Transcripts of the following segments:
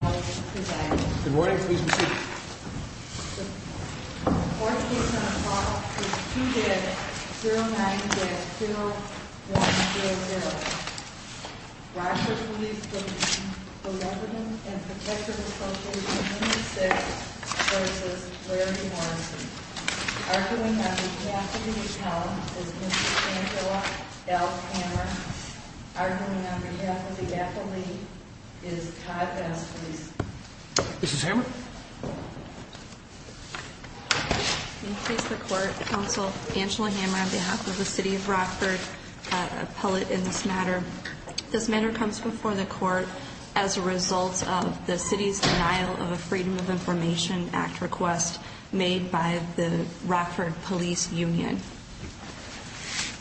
Good morning. Please proceed. The fourth case on the floor is 2-090-2100. Rochford Police Benevolent and Protective Association Unit 6 v. Larry Morrissey. Arguing on behalf of the appellant is Mr. Angela L. Hammer. Arguing on behalf of the appellant is Todd Bass Police. Mrs. Hammer? Good morning. Please proceed. The court counsel, Angela Hammer, on behalf of the city of Rochford, appellate in this matter. This matter comes before the court as a result of the city's denial of a Freedom of Information Act request made by the Rochford Police Union.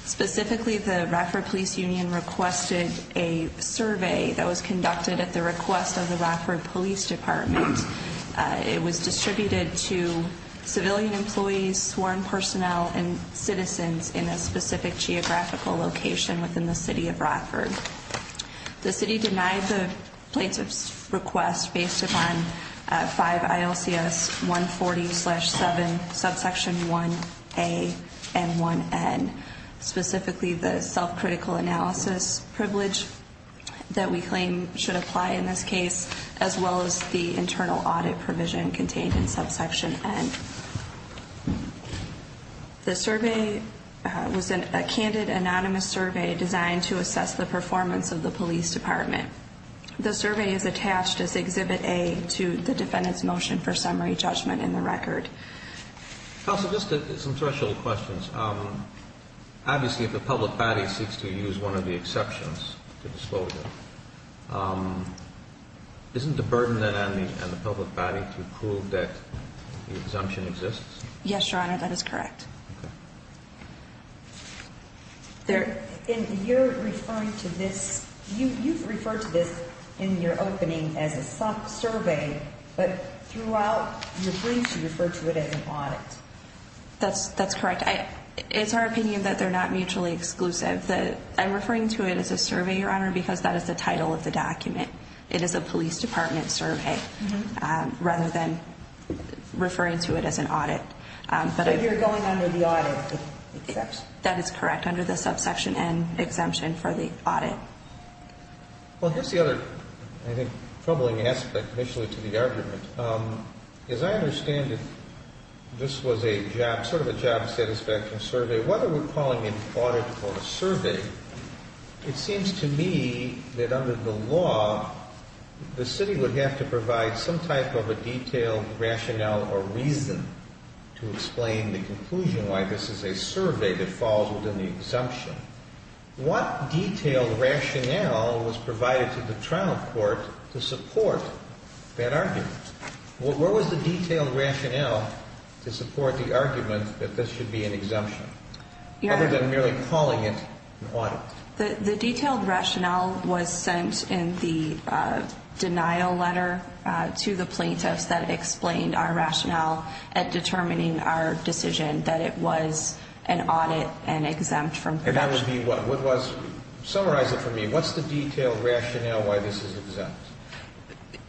Specifically, the Rochford Police Union requested a survey that was conducted at the request of the Rochford Police Department. It was distributed to civilian employees, sworn personnel, and citizens in a specific geographical location within the city of Rochford. The city denied the plaintiff's request based upon 5 ILCS 140-7, subsection 1A and 1N. Specifically, the self-critical analysis privilege that we claim should apply in this case, as well as the internal audit provision contained in subsection N. The survey was a candid, anonymous survey designed to assess the performance of the police department. The survey is attached as Exhibit A to the defendant's motion for summary judgment in the record. Counsel, just some threshold questions. Obviously, if the public body seeks to use one of the exceptions to disclosure, isn't the burden then on the public body to prove that the exemption exists? Yes, Your Honor, that is correct. Okay. You've referred to this in your opening as a survey, but throughout your briefs, you refer to it as an audit. That's correct. It's our opinion that they're not mutually exclusive. I'm referring to it as a survey, Your Honor, because that is the title of the document. It is a police department survey, rather than referring to it as an audit. So you're going under the audit, if it exists? That is correct, under the subsection N exemption for the audit. Well, here's the other, I think, troubling aspect, initially, to the argument. As I understand it, this was a job, sort of a job satisfaction survey. Whether we're calling it an audit or a survey, it seems to me that under the law, the city would have to provide some type of a detailed rationale or reason to explain the conclusion why this is a survey that falls within the exemption. What detailed rationale was provided to the trial court to support that argument? Where was the detailed rationale to support the argument that this should be an exemption, other than merely calling it an audit? The detailed rationale was sent in the denial letter to the plaintiffs that explained our rationale at determining our decision that it was an audit and exempt from the exemption. And that would be what? Summarize it for me. What's the detailed rationale why this is exempt?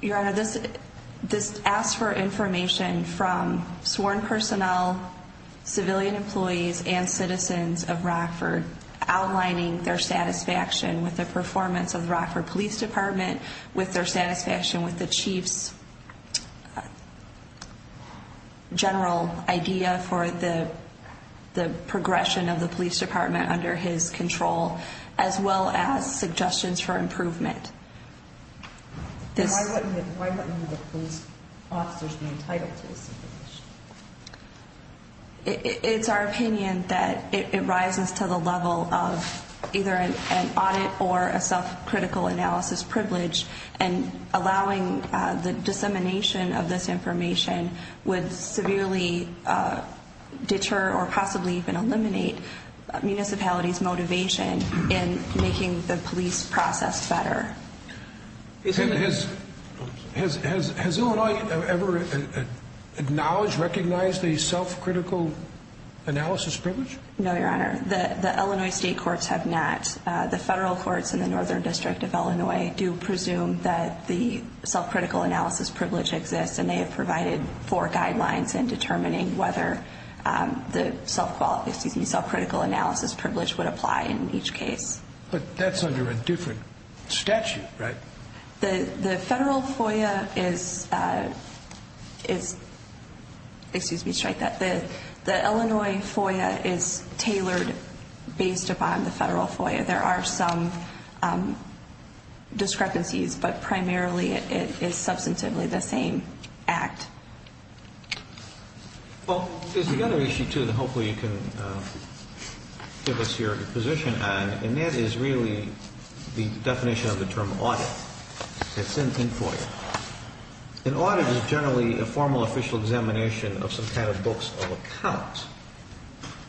Your Honor, this asks for information from sworn personnel, civilian employees, and citizens of Rockford, outlining their satisfaction with the performance of the Rockford Police Department, with their satisfaction with the Chief's general idea for the progression of the police department under his control, as well as suggestions for improvement. Why wouldn't any of the police officers be entitled to this information? It's our opinion that it rises to the level of either an audit or a self-critical analysis privilege, and allowing the dissemination of this information would severely deter or possibly even eliminate municipalities' motivation in making the police process better. Has Illinois ever acknowledged, recognized a self-critical analysis privilege? No, Your Honor. The Illinois state courts have not. The federal courts in the Northern District of Illinois do presume that the self-critical analysis privilege exists, and they have provided four guidelines in determining whether the self-critical analysis privilege would apply in each case. But that's under a different statute, right? The federal FOIA is, excuse me, strike that. The Illinois FOIA is tailored based upon the federal FOIA. There are some discrepancies, but primarily it is substantively the same act. Well, there's another issue, too, that hopefully you can give us your position on, and that is really the definition of the term audit. It's in the FOIA. An audit is generally a formal official examination of some kind of books of account.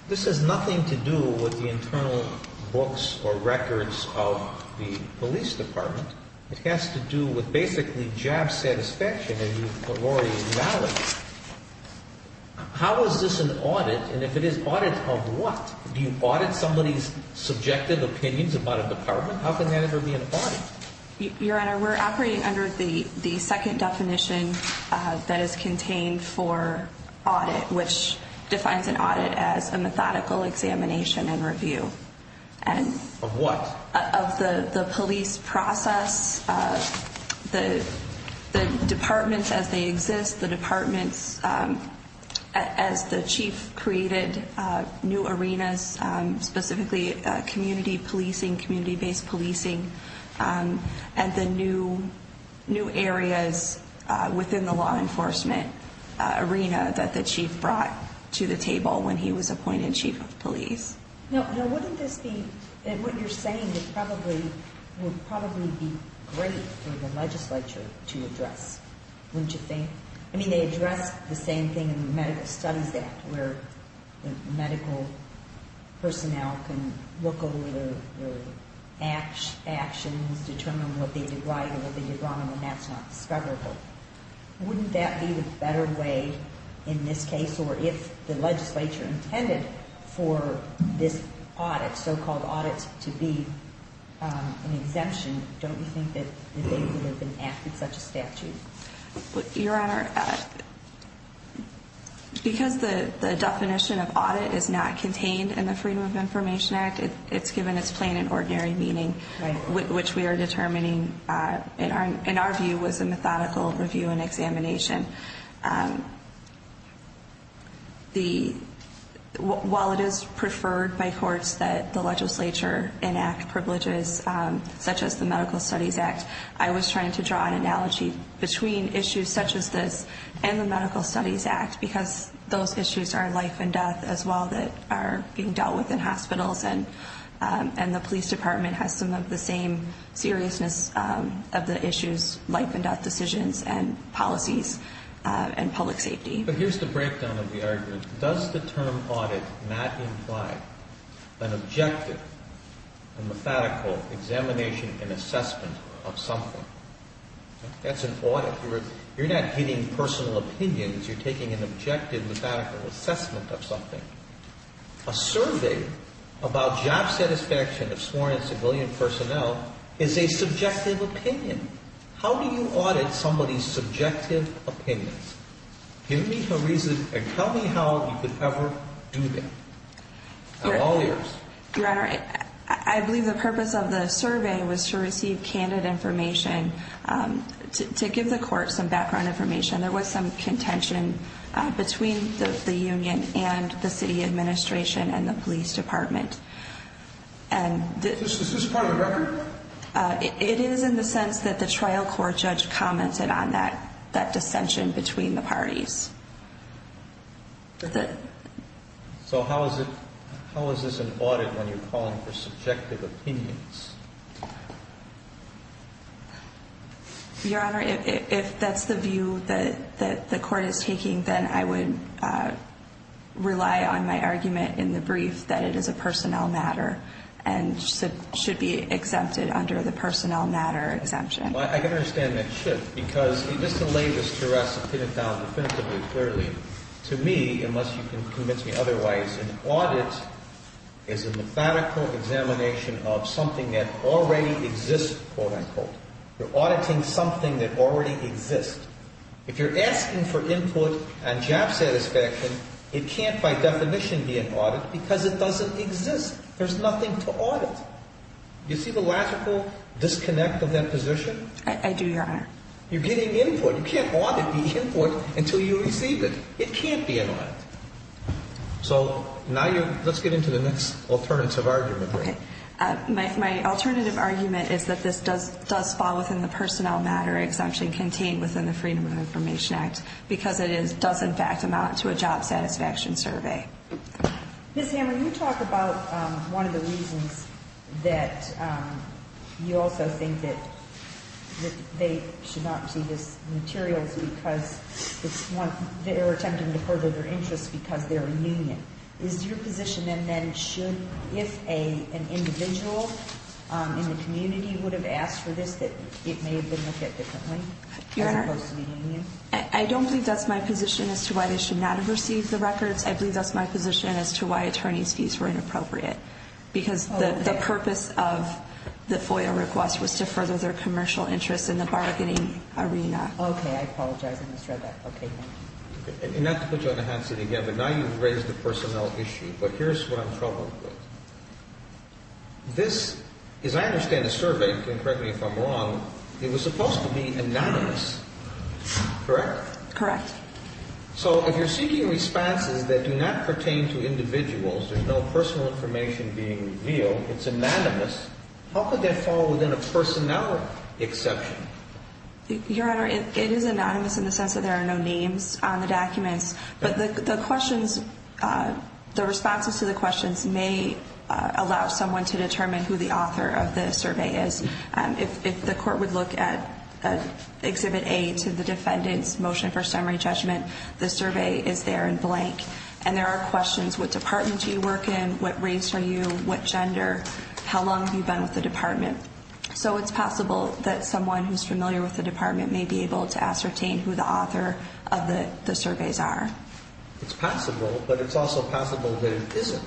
This has nothing to do with the internal books or records of the police department. It has to do with basically job satisfaction, as you've already acknowledged. How is this an audit, and if it is, audit of what? Do you audit somebody's subjective opinions about a department? How can that ever be an audit? Your Honor, we're operating under the second definition that is contained for audit, which defines an audit as a methodical examination and review. Of what? Of the police process, the departments as they exist, the departments as the chief created new arenas, specifically community policing, community-based policing, and the new areas within the law enforcement arena that the chief brought to the table when he was appointed chief of police. Now, wouldn't this be, and what you're saying would probably be great for the legislature to address, wouldn't you think? I mean, they address the same thing in the Medical Studies Act, where medical personnel can look over their actions, determine what they did right and what they did wrong, and when that's not discoverable. Wouldn't that be the better way in this case, or if the legislature intended for this audit, so-called audit, to be an exemption, don't you think that they could have enacted such a statute? Your Honor, because the definition of audit is not contained in the Freedom of Information Act, it's given its plain and ordinary meaning, which we are determining, in our view, was a methodical review and examination. While it is preferred by courts that the legislature enact privileges such as the Medical Studies Act, I was trying to draw an analogy between issues such as this and the Medical Studies Act, because those issues are life and death as well that are being dealt with in hospitals, and the police department has some of the same seriousness of the issues, life and death decisions and policies. And public safety. But here's the breakdown of the argument. Does the term audit not imply an objective and methodical examination and assessment of something? That's an audit. You're not hitting personal opinions. You're taking an objective, methodical assessment of something. A survey about job satisfaction of sworn and civilian personnel is a subjective opinion. How do you audit somebody's subjective opinions? Give me a reason and tell me how you could ever do that. I'm all ears. Your Honor, I believe the purpose of the survey was to receive candid information, to give the court some background information. There was some contention between the union and the city administration and the police department. Is this part of the record? It is in the sense that the trial court judge commented on that dissension between the parties. So how is this an audit when you're calling for subjective opinions? Your Honor, if that's the view that the court is taking, then I would rely on my argument in the brief that it is a personnel matter and should be exempted under the personnel matter exemption. I can understand that shift because just to lay this to rest definitively, clearly, to me, unless you can convince me otherwise, an audit is a methodical examination of something that already exists, quote, unquote. You're auditing something that already exists. If you're asking for input on job satisfaction, it can't by definition be an audit because it doesn't exist. There's nothing to audit. You see the logical disconnect of that position? I do, Your Honor. You're getting input. You can't audit the input until you receive it. It can't be an audit. So now let's get into the next alternative argument. Okay. My alternative argument is that this does fall within the personnel matter exemption contained within the Freedom of Information Act because it does, in fact, amount to a job satisfaction survey. Ms. Hammer, you talk about one of the reasons that you also think that they should not receive these materials because they're attempting to further their interests because they're a union. Is your position then that it should, if an individual in the community would have asked for this, that it may have been looked at differently as opposed to being a union? Your Honor, I don't believe that's my position as to why they should not have received the records. I believe that's my position as to why attorney's fees were inappropriate because the purpose of the FOIA request was to further their commercial interests in the bargaining arena. Okay. I apologize. I misread that. Okay. And not to put you on the Hanson again, but now you've raised the personnel issue. But here's what I'm troubled with. This, as I understand the survey, you can correct me if I'm wrong, it was supposed to be anonymous, correct? Correct. So if you're seeking responses that do not pertain to individuals, there's no personal information being revealed, it's anonymous, how could that fall within a personnel exception? Your Honor, it is anonymous in the sense that there are no names on the documents. But the questions, the responses to the questions may allow someone to determine who the author of the survey is. If the court would look at Exhibit A to the defendant's motion for summary judgment, the survey is there in blank. And there are questions, what department do you work in, what race are you, what gender, how long have you been with the department? So it's possible that someone who's familiar with the department may be able to ascertain who the author of the surveys are. It's possible, but it's also possible that it isn't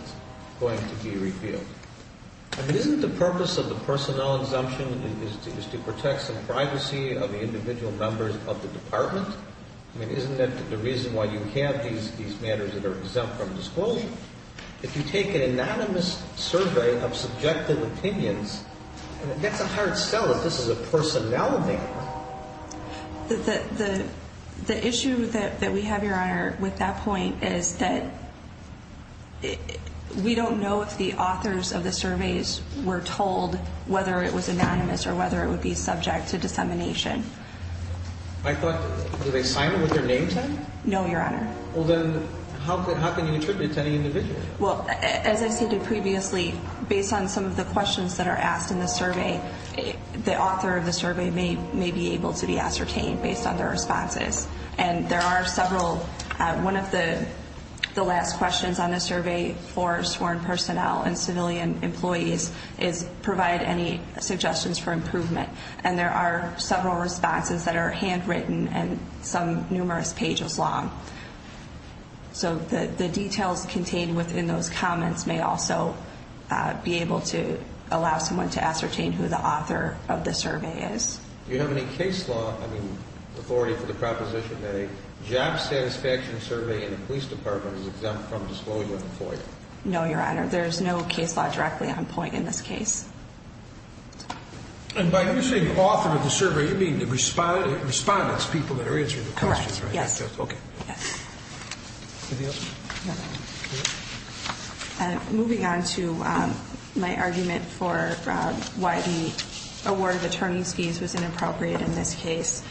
going to be revealed. I mean, isn't the purpose of the personnel exemption is to protect some privacy of the individual members of the department? I mean, isn't that the reason why you have these matters that are exempt from disclosure? If you take an anonymous survey of subjective opinions, that's a hard sell if this is a personnel matter. The issue that we have, Your Honor, with that point is that we don't know if the authors of the surveys were told whether it was anonymous or whether it would be subject to dissemination. I thought, did they sign them with their names on it? No, Your Honor. Well, then how can you attribute it to any individual? Well, as I stated previously, based on some of the questions that are asked in the survey, the author of the survey may be able to be ascertained based on their responses. And there are several. One of the last questions on the survey for sworn personnel and civilian employees is provide any suggestions for improvement. And there are several responses that are handwritten and some numerous pages long. So the details contained within those comments may also be able to allow someone to ascertain who the author of the survey is. Do you have any case law authority for the proposition that a job satisfaction survey in a police department is exempt from disclosure for you? No, Your Honor. There is no case law directly on point in this case. And by using author of the survey, you mean the respondents, people that are answering the questions, right? Yes. Any other? No. Okay. Moving on to my argument for why the award of attorney's fees was inappropriate in this case.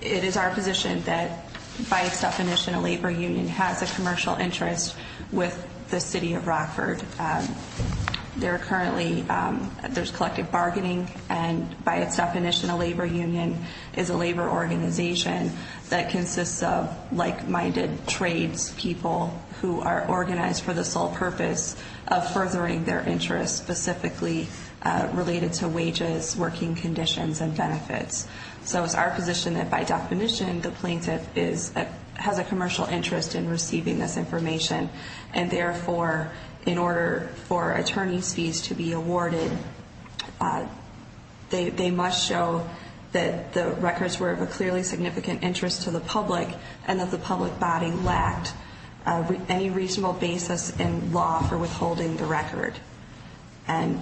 It is our position that by its definition, a labor union has a commercial interest with the city of Rockford. There are currently, there's collective bargaining. And by its definition, a labor union is a labor organization that consists of like-minded trades people who are organized for the sole purpose of furthering their interest, specifically related to wages, working conditions, and benefits. So it's our position that by definition, the plaintiff has a commercial interest in receiving this information. And therefore, in order for attorney's fees to be awarded, they must show that the records were of a clearly significant interest to the public and that the public body lacked any reasonable basis in law for withholding the record. And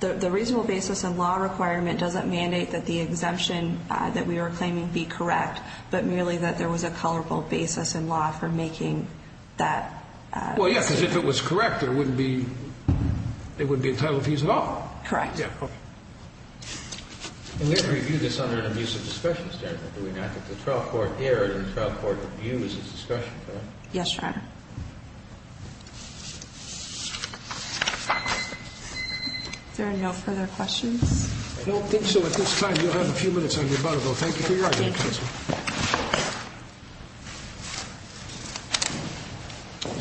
the reasonable basis in law requirement doesn't mandate that the exemption that we are claiming be correct, but merely that there was a colorable basis in law for making that statement. Well, yeah, because if it was correct, there wouldn't be, it wouldn't be entitled fees at all. Correct. Yeah, okay. And we have reviewed this under an abusive discussion standard, do we not? That the trial court aired and the trial court reviews its discussion, correct? Yes, Your Honor. Is there no further questions? I don't think so. At this time, you'll have a few minutes on your button, though. Thank you for your argument. Thank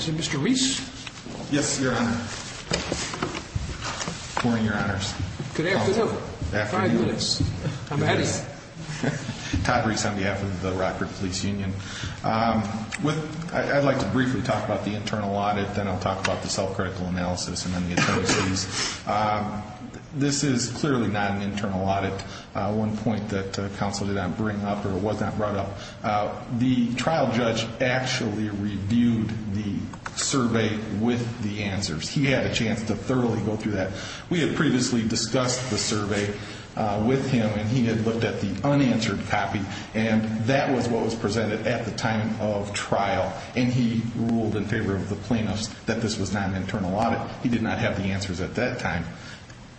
you. Mr. Reese? Yes, Your Honor. Good morning, Your Honors. Good afternoon. Five minutes. I'm ahead of you. Todd Reese on behalf of the Rockford Police Union. I'd like to briefly talk about the internal audit. Then I'll talk about the self-critical analysis and then the attorneys. This is clearly not an internal audit. One point that counsel did not bring up or was not brought up. The trial judge actually reviewed the survey with the answers. He had a chance to thoroughly go through that. We had previously discussed the survey with him, and he had looked at the unanswered copy, and that was what was presented at the time of trial, and he ruled in favor of the plaintiffs that this was not an internal audit. He did not have the answers at that time.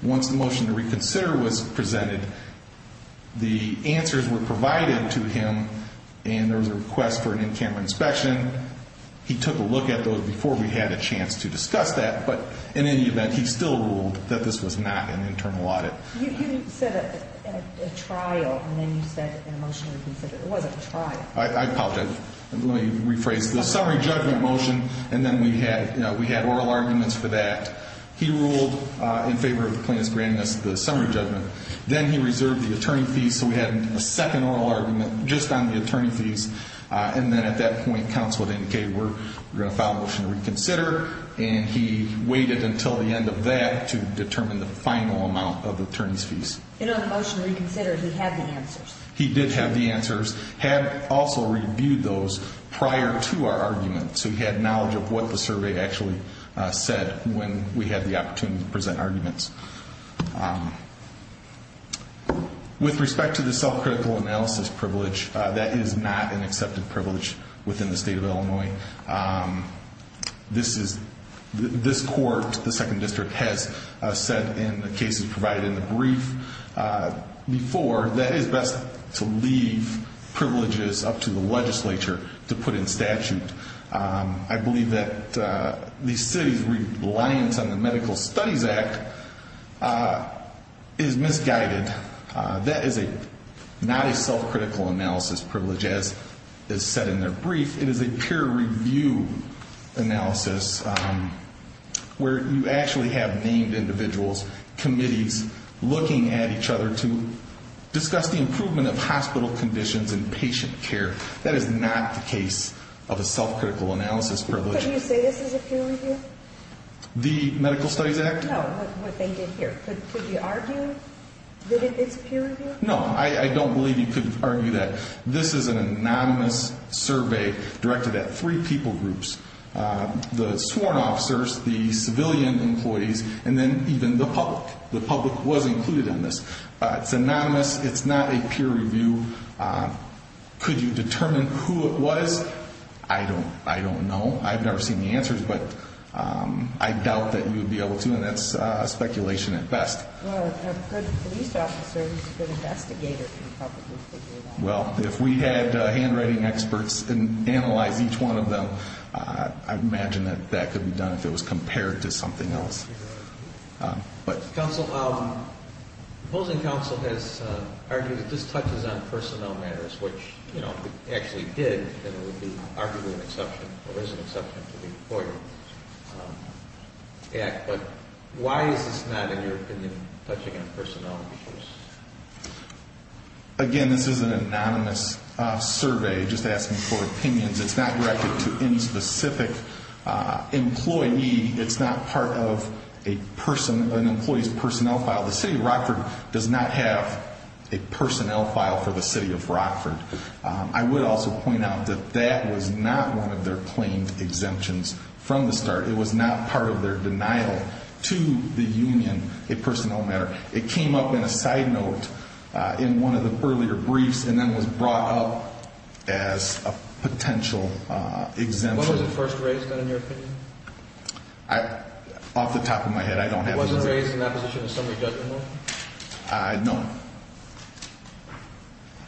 Once the motion to reconsider was presented, the answers were provided to him, and there was a request for an in-camera inspection. He took a look at those before we had a chance to discuss that, but in any event, he still ruled that this was not an internal audit. You said a trial, and then you said a motion to reconsider. It wasn't a trial. I apologize. Let me rephrase. The summary judgment motion, and then we had oral arguments for that. He ruled in favor of the plaintiffs granting us the summary judgment. Then he reserved the attorney fees, so we had a second oral argument just on the attorney fees, and then at that point counsel had indicated we're going to file a motion to reconsider, and he waited until the end of that to determine the final amount of attorney's fees. In a motion to reconsider, he had the answers. He did have the answers, had also reviewed those prior to our argument, so he had knowledge of what the survey actually said when we had the opportunity to present arguments. With respect to the self-critical analysis privilege, that is not an accepted privilege within the state of Illinois. This court, the second district, has said in the cases provided in the brief before that it is best to leave privileges up to the legislature to put in statute. I believe that the city's reliance on the Medical Studies Act is misguided. That is not a self-critical analysis privilege as is said in their brief. It is a peer review analysis where you actually have named individuals, committees looking at each other to discuss the improvement of hospital conditions and patient care. That is not the case of a self-critical analysis privilege. Could you say this is a peer review? The Medical Studies Act? No, what they did here. Could you argue that it's peer review? No, I don't believe you could argue that. This is an anonymous survey directed at three people groups, the sworn officers, the civilian employees, and then even the public. The public was included in this. It's anonymous. It's not a peer review. Could you determine who it was? I don't know. I've never seen the answers, but I doubt that you would be able to, and that's speculation at best. Well, a good police officer who's a good investigator can probably figure that out. Well, if we had handwriting experts analyze each one of them, I'd imagine that that could be done if it was compared to something else. Counsel, the opposing counsel has argued that this touches on personnel matters, which, you know, if it actually did, then it would be arguably an exception or is an exception to the Employer Act. But why is this not, in your opinion, touching on personnel issues? Again, this is an anonymous survey. Just ask me for opinions. It's not directed to any specific employee. It's not part of an employee's personnel file. The City of Rockford does not have a personnel file for the City of Rockford. I would also point out that that was not one of their claimed exemptions from the start. It was not part of their denial to the union a personnel matter. It came up in a side note in one of the earlier briefs and then was brought up as a potential exemption. When was it first raised, then, in your opinion? Off the top of my head, I don't have an answer. It wasn't raised in that position in the summary judgment? No.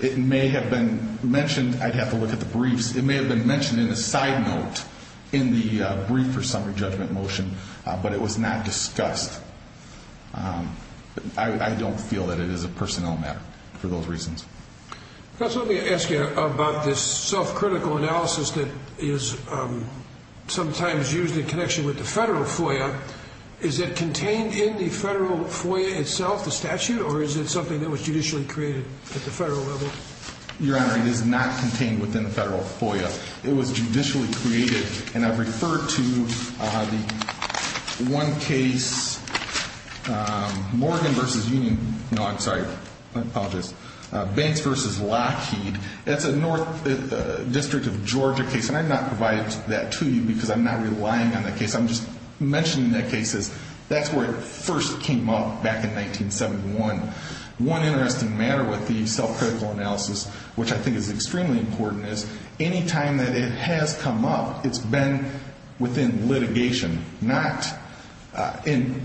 It may have been mentioned. I'd have to look at the briefs. It may have been mentioned in a side note in the brief or summary judgment motion, but it was not discussed. I don't feel that it is a personnel matter for those reasons. Let me ask you about this self-critical analysis that is sometimes used in connection with the federal FOIA. Is it contained in the federal FOIA itself, the statute, or is it something that was judicially created at the federal level? Your Honor, it is not contained within the federal FOIA. It was judicially created, and I've referred to the one case, Morgan v. Union. No, I'm sorry. I apologize. Banks v. Lockheed. That's a North District of Georgia case, and I've not provided that to you because I'm not relying on that case. I'm just mentioning that case. That's where it first came up back in 1971. One interesting matter with the self-critical analysis, which I think is extremely important, is any time that it has come up, it's been within litigation,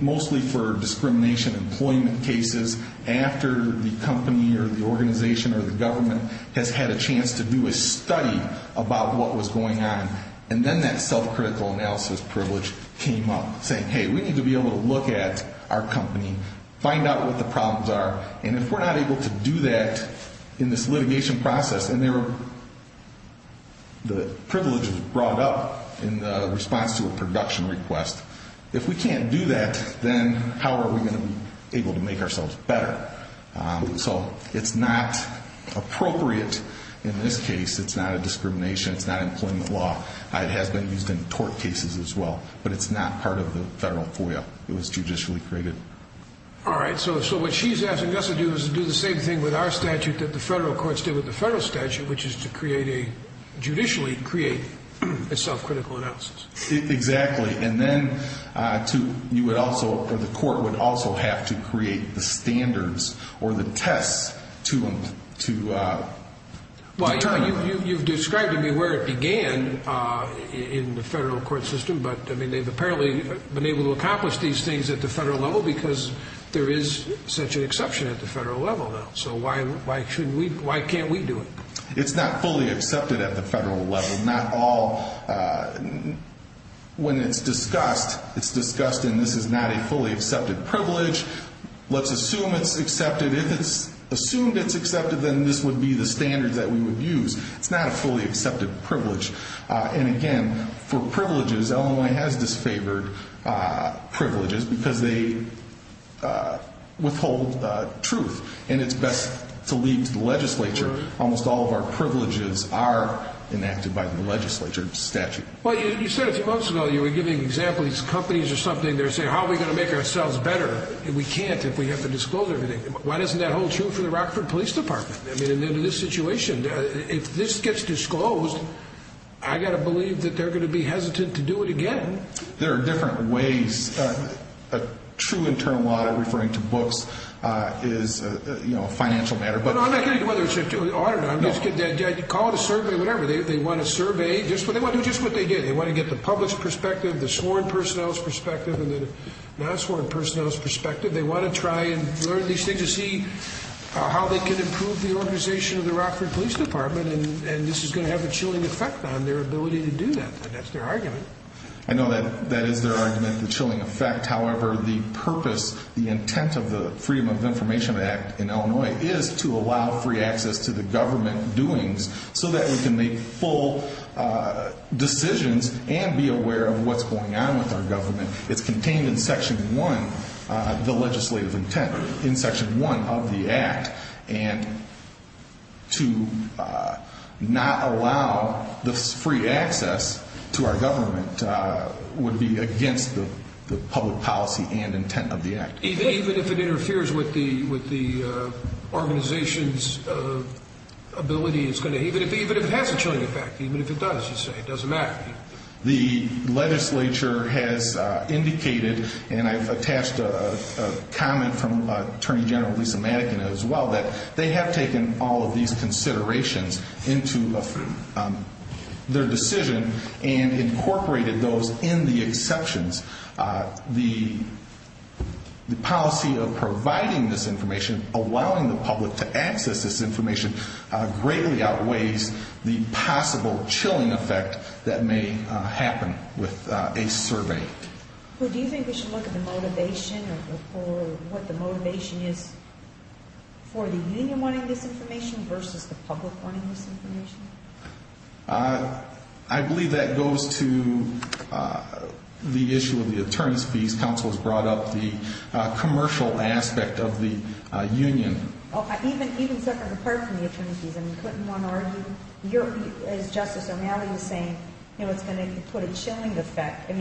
mostly for discrimination employment cases after the company or the organization or the government has had a chance to do a study about what was going on. And then that self-critical analysis privilege came up, saying, hey, we need to be able to look at our company, find out what the problems are, and if we're not able to do that in this litigation process, and the privilege was brought up in response to a production request, if we can't do that, then how are we going to be able to make ourselves better? So it's not appropriate in this case. It's not a discrimination. It's not employment law. It has been used in tort cases as well, but it's not part of the federal FOIA. It was judicially created. All right. So what she's asking us to do is to do the same thing with our statute that the federal courts did with the federal statute, which is to create a judicially created self-critical analysis. Exactly. And then you would also, or the court would also have to create the standards or the tests to determine that. Well, you've described to me where it began in the federal court system, but, I mean, they've apparently been able to accomplish these things at the federal level because there is such an exception at the federal level now. So why can't we do it? It's not fully accepted at the federal level. Not all. When it's discussed, it's discussed, and this is not a fully accepted privilege. Let's assume it's accepted. If it's assumed it's accepted, then this would be the standards that we would use. It's not a fully accepted privilege. And, again, for privileges, Illinois has disfavored privileges because they withhold truth. And it's best to leave to the legislature. Almost all of our privileges are enacted by the legislature statute. Well, you said a few months ago you were giving examples of companies or something that are saying, how are we going to make ourselves better if we can't, if we have to disclose everything? Why doesn't that hold true for the Rockford Police Department? I mean, in this situation, if this gets disclosed, I've got to believe that they're going to be hesitant to do it again. There are different ways. A true internal audit, referring to books, is a financial matter. No, I'm not getting to whether it's an audit or not. Call it a survey, whatever. They want to survey. They want to do just what they did. They want to get the public's perspective, the sworn personnel's perspective, and the non-sworn personnel's perspective. They want to try and learn these things and see how they can improve the organization of the Rockford Police Department, and this is going to have a chilling effect on their ability to do that. That's their argument. I know that is their argument, the chilling effect. However, the purpose, the intent of the Freedom of Information Act in Illinois is to allow free access to the government doings so that we can make full decisions and be aware of what's going on with our government. It's contained in Section 1, the legislative intent, in Section 1 of the act, and to not allow this free access to our government would be against the public policy and intent of the act. Even if it interferes with the organization's ability, even if it has a chilling effect, even if it does, you say, it doesn't matter. The legislature has indicated, and I've attached a comment from Attorney General Lisa Madigan as well, that they have taken all of these considerations into their decision and incorporated those in the exceptions. The policy of providing this information, allowing the public to access this information, greatly outweighs the possible chilling effect that may happen with a survey. Do you think we should look at the motivation or what the motivation is for the union wanting this information versus the public wanting this information? I believe that goes to the issue of the attorneys' fees. Counsel has brought up the commercial aspect of the union. Even separate and apart from the attorneys' fees, couldn't one argue, as Justice O'Malley was saying, it's going to put a chilling effect.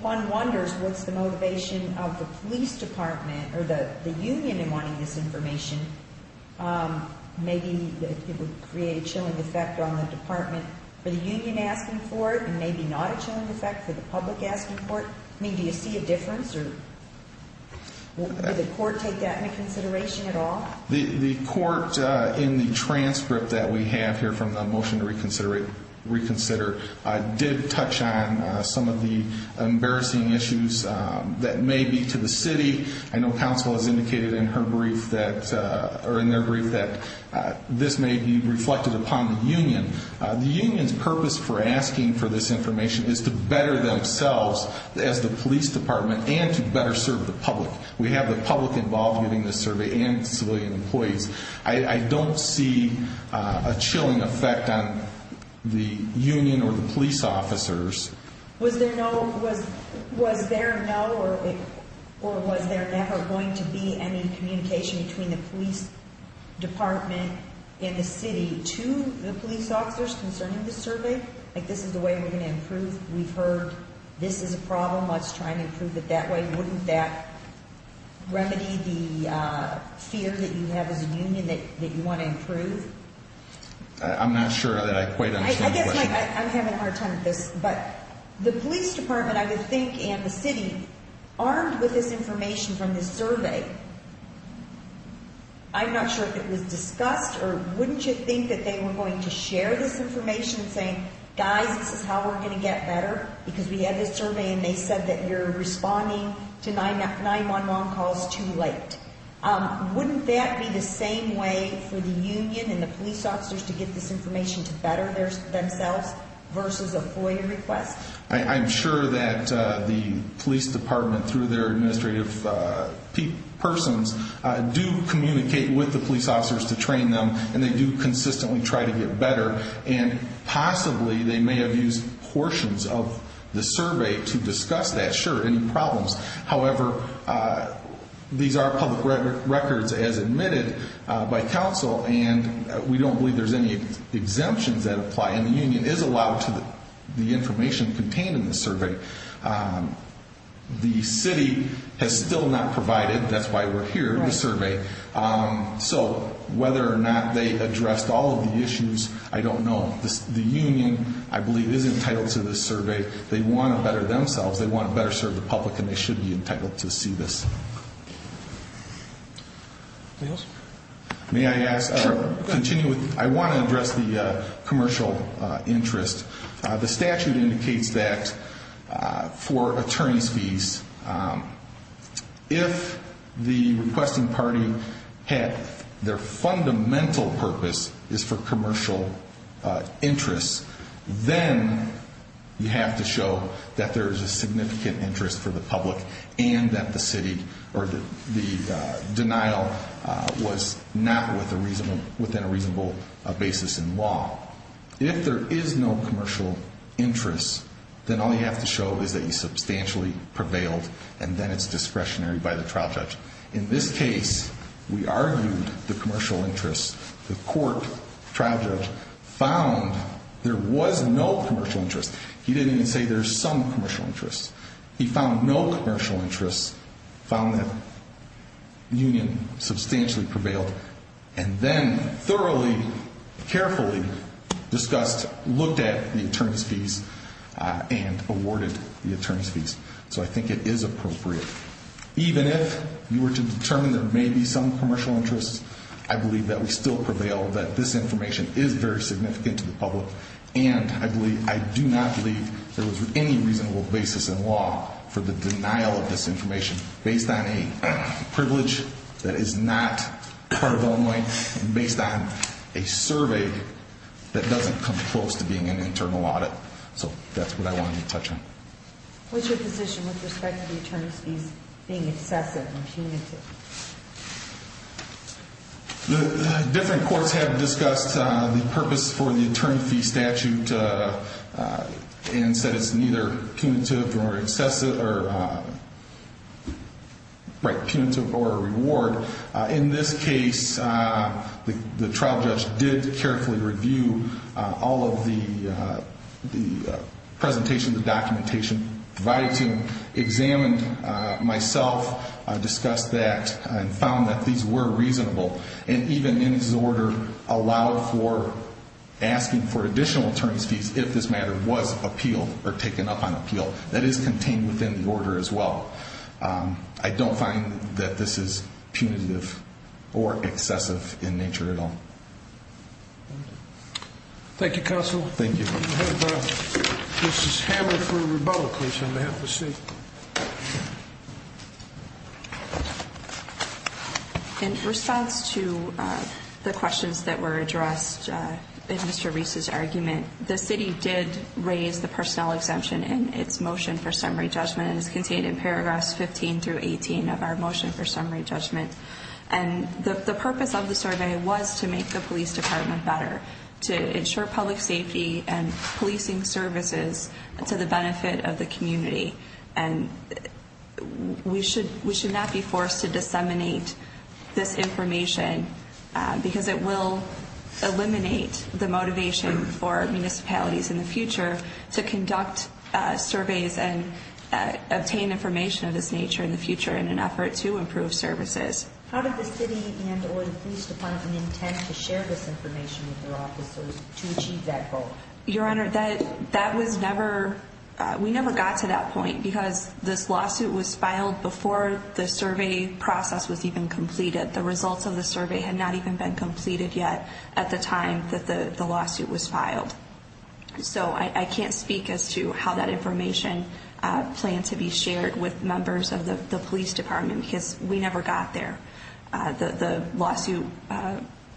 One wonders what's the motivation of the police department or the union in wanting this information. Maybe it would create a chilling effect on the department, for the union asking for it, and maybe not a chilling effect for the public asking for it. Do you see a difference? Did the court take that into consideration at all? The court, in the transcript that we have here from the motion to reconsider, did touch on some of the embarrassing issues that may be to the city. I know counsel has indicated in their brief that this may be reflected upon the union. The union's purpose for asking for this information is to better themselves as the police department and to better serve the public. We have the public involved in this survey and civilian employees. I don't see a chilling effect on the union or the police officers. Was there no or was there ever going to be any communication between the police department and the city to the police officers concerning this survey? Like, this is the way we're going to improve? We've heard this is a problem. Let's try and improve it that way. Wouldn't that remedy the fear that you have as a union that you want to improve? I'm not sure that I quite understand the question. I guess I'm having a hard time with this, but the police department, I would think, and the city, armed with this information from this survey, I'm not sure if it was discussed or wouldn't you think that they were going to share this information saying, guys, this is how we're going to get better because we had this survey and they said that you're responding to 911 calls too late. Wouldn't that be the same way for the union and the police officers to get this information to better themselves versus a FOIA request? I'm sure that the police department, through their administrative persons, do communicate with the police officers to train them, and they do consistently try to get better. And possibly they may have used portions of the survey to discuss that. Sure, any problems. However, these are public records as admitted by counsel, and we don't believe there's any exemptions that apply, and the union is allowed to the information contained in the survey. The city has still not provided, that's why we're here, the survey. So whether or not they addressed all of the issues, I don't know. The union, I believe, is entitled to this survey. They want to better themselves, they want to better serve the public, and they should be entitled to see this. Anything else? May I ask? Sure, go ahead. I want to address the commercial interest. The statute indicates that for attorney's fees, if the requesting party had their fundamental purpose is for commercial interest, then you have to show that there is a significant interest for the public and that the denial was not within a reasonable basis in law. If there is no commercial interest, then all you have to show is that you substantially prevailed and then it's discretionary by the trial judge. In this case, we argued the commercial interest. The court trial judge found there was no commercial interest. He didn't even say there's some commercial interest. He found no commercial interest, found that union substantially prevailed, and then thoroughly, carefully discussed, looked at the attorney's fees and awarded the attorney's fees. So I think it is appropriate. Even if you were to determine there may be some commercial interest, I believe that we still prevail that this information is very significant to the public, and I do not believe there was any reasonable basis in law for the denial of this information based on a privilege that is not part of Illinois, based on a survey that doesn't come close to being an internal audit. So that's what I wanted to touch on. What's your position with respect to the attorney's fees being excessive or punitive? Different courts have discussed the purpose for the attorney fee statute and said it's neither punitive or excessive or, right, punitive or a reward. In this case, the trial judge did carefully review all of the presentation, the documentation provided to him, examined myself, discussed that, and found that these were reasonable. And even in his order, allowed for asking for additional attorney's fees if this matter was appealed or taken up on appeal. That is contained within the order as well. I don't find that this is punitive or excessive in nature at all. Thank you, counsel. Thank you. We have Mrs. Hammer for rebellion case on behalf of the state. In response to the questions that were addressed in Mr. Reese's argument, the city did raise the personnel exemption in its motion for summary judgment and is contained in paragraphs 15 through 18 of our motion for summary judgment. And the purpose of the survey was to make the police department better, to ensure public safety and policing services to the benefit of the community and we should not be forced to disseminate this information because it will eliminate the motivation for municipalities in the future to conduct surveys and obtain information of this nature in the future in an effort to improve services. How did the city and or the police department intend to share this information with their officers to achieve that goal? Your Honor, that was never, we never got to that point because this lawsuit was filed before the survey process was even completed. The results of the survey had not even been completed yet at the time that the lawsuit was filed. So I can't speak as to how that information planned to be shared with members of the police department because we never got there. The lawsuit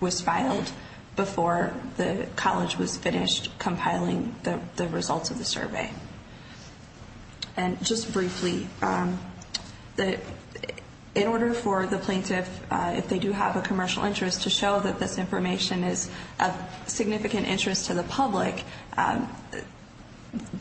was filed before the college was finished compiling the results of the survey. And just briefly, in order for the plaintiff, if they do have a commercial interest, to show that this information is of significant interest to the public,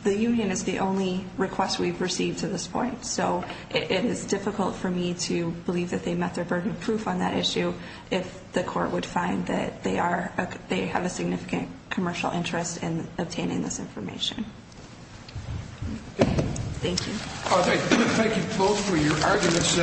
the union is the only request we've received to this point. So it is difficult for me to believe that they met their burden of proof on that issue if the court would find that they have a significant commercial interest in obtaining this information. Thank you. Thank you both for your arguments.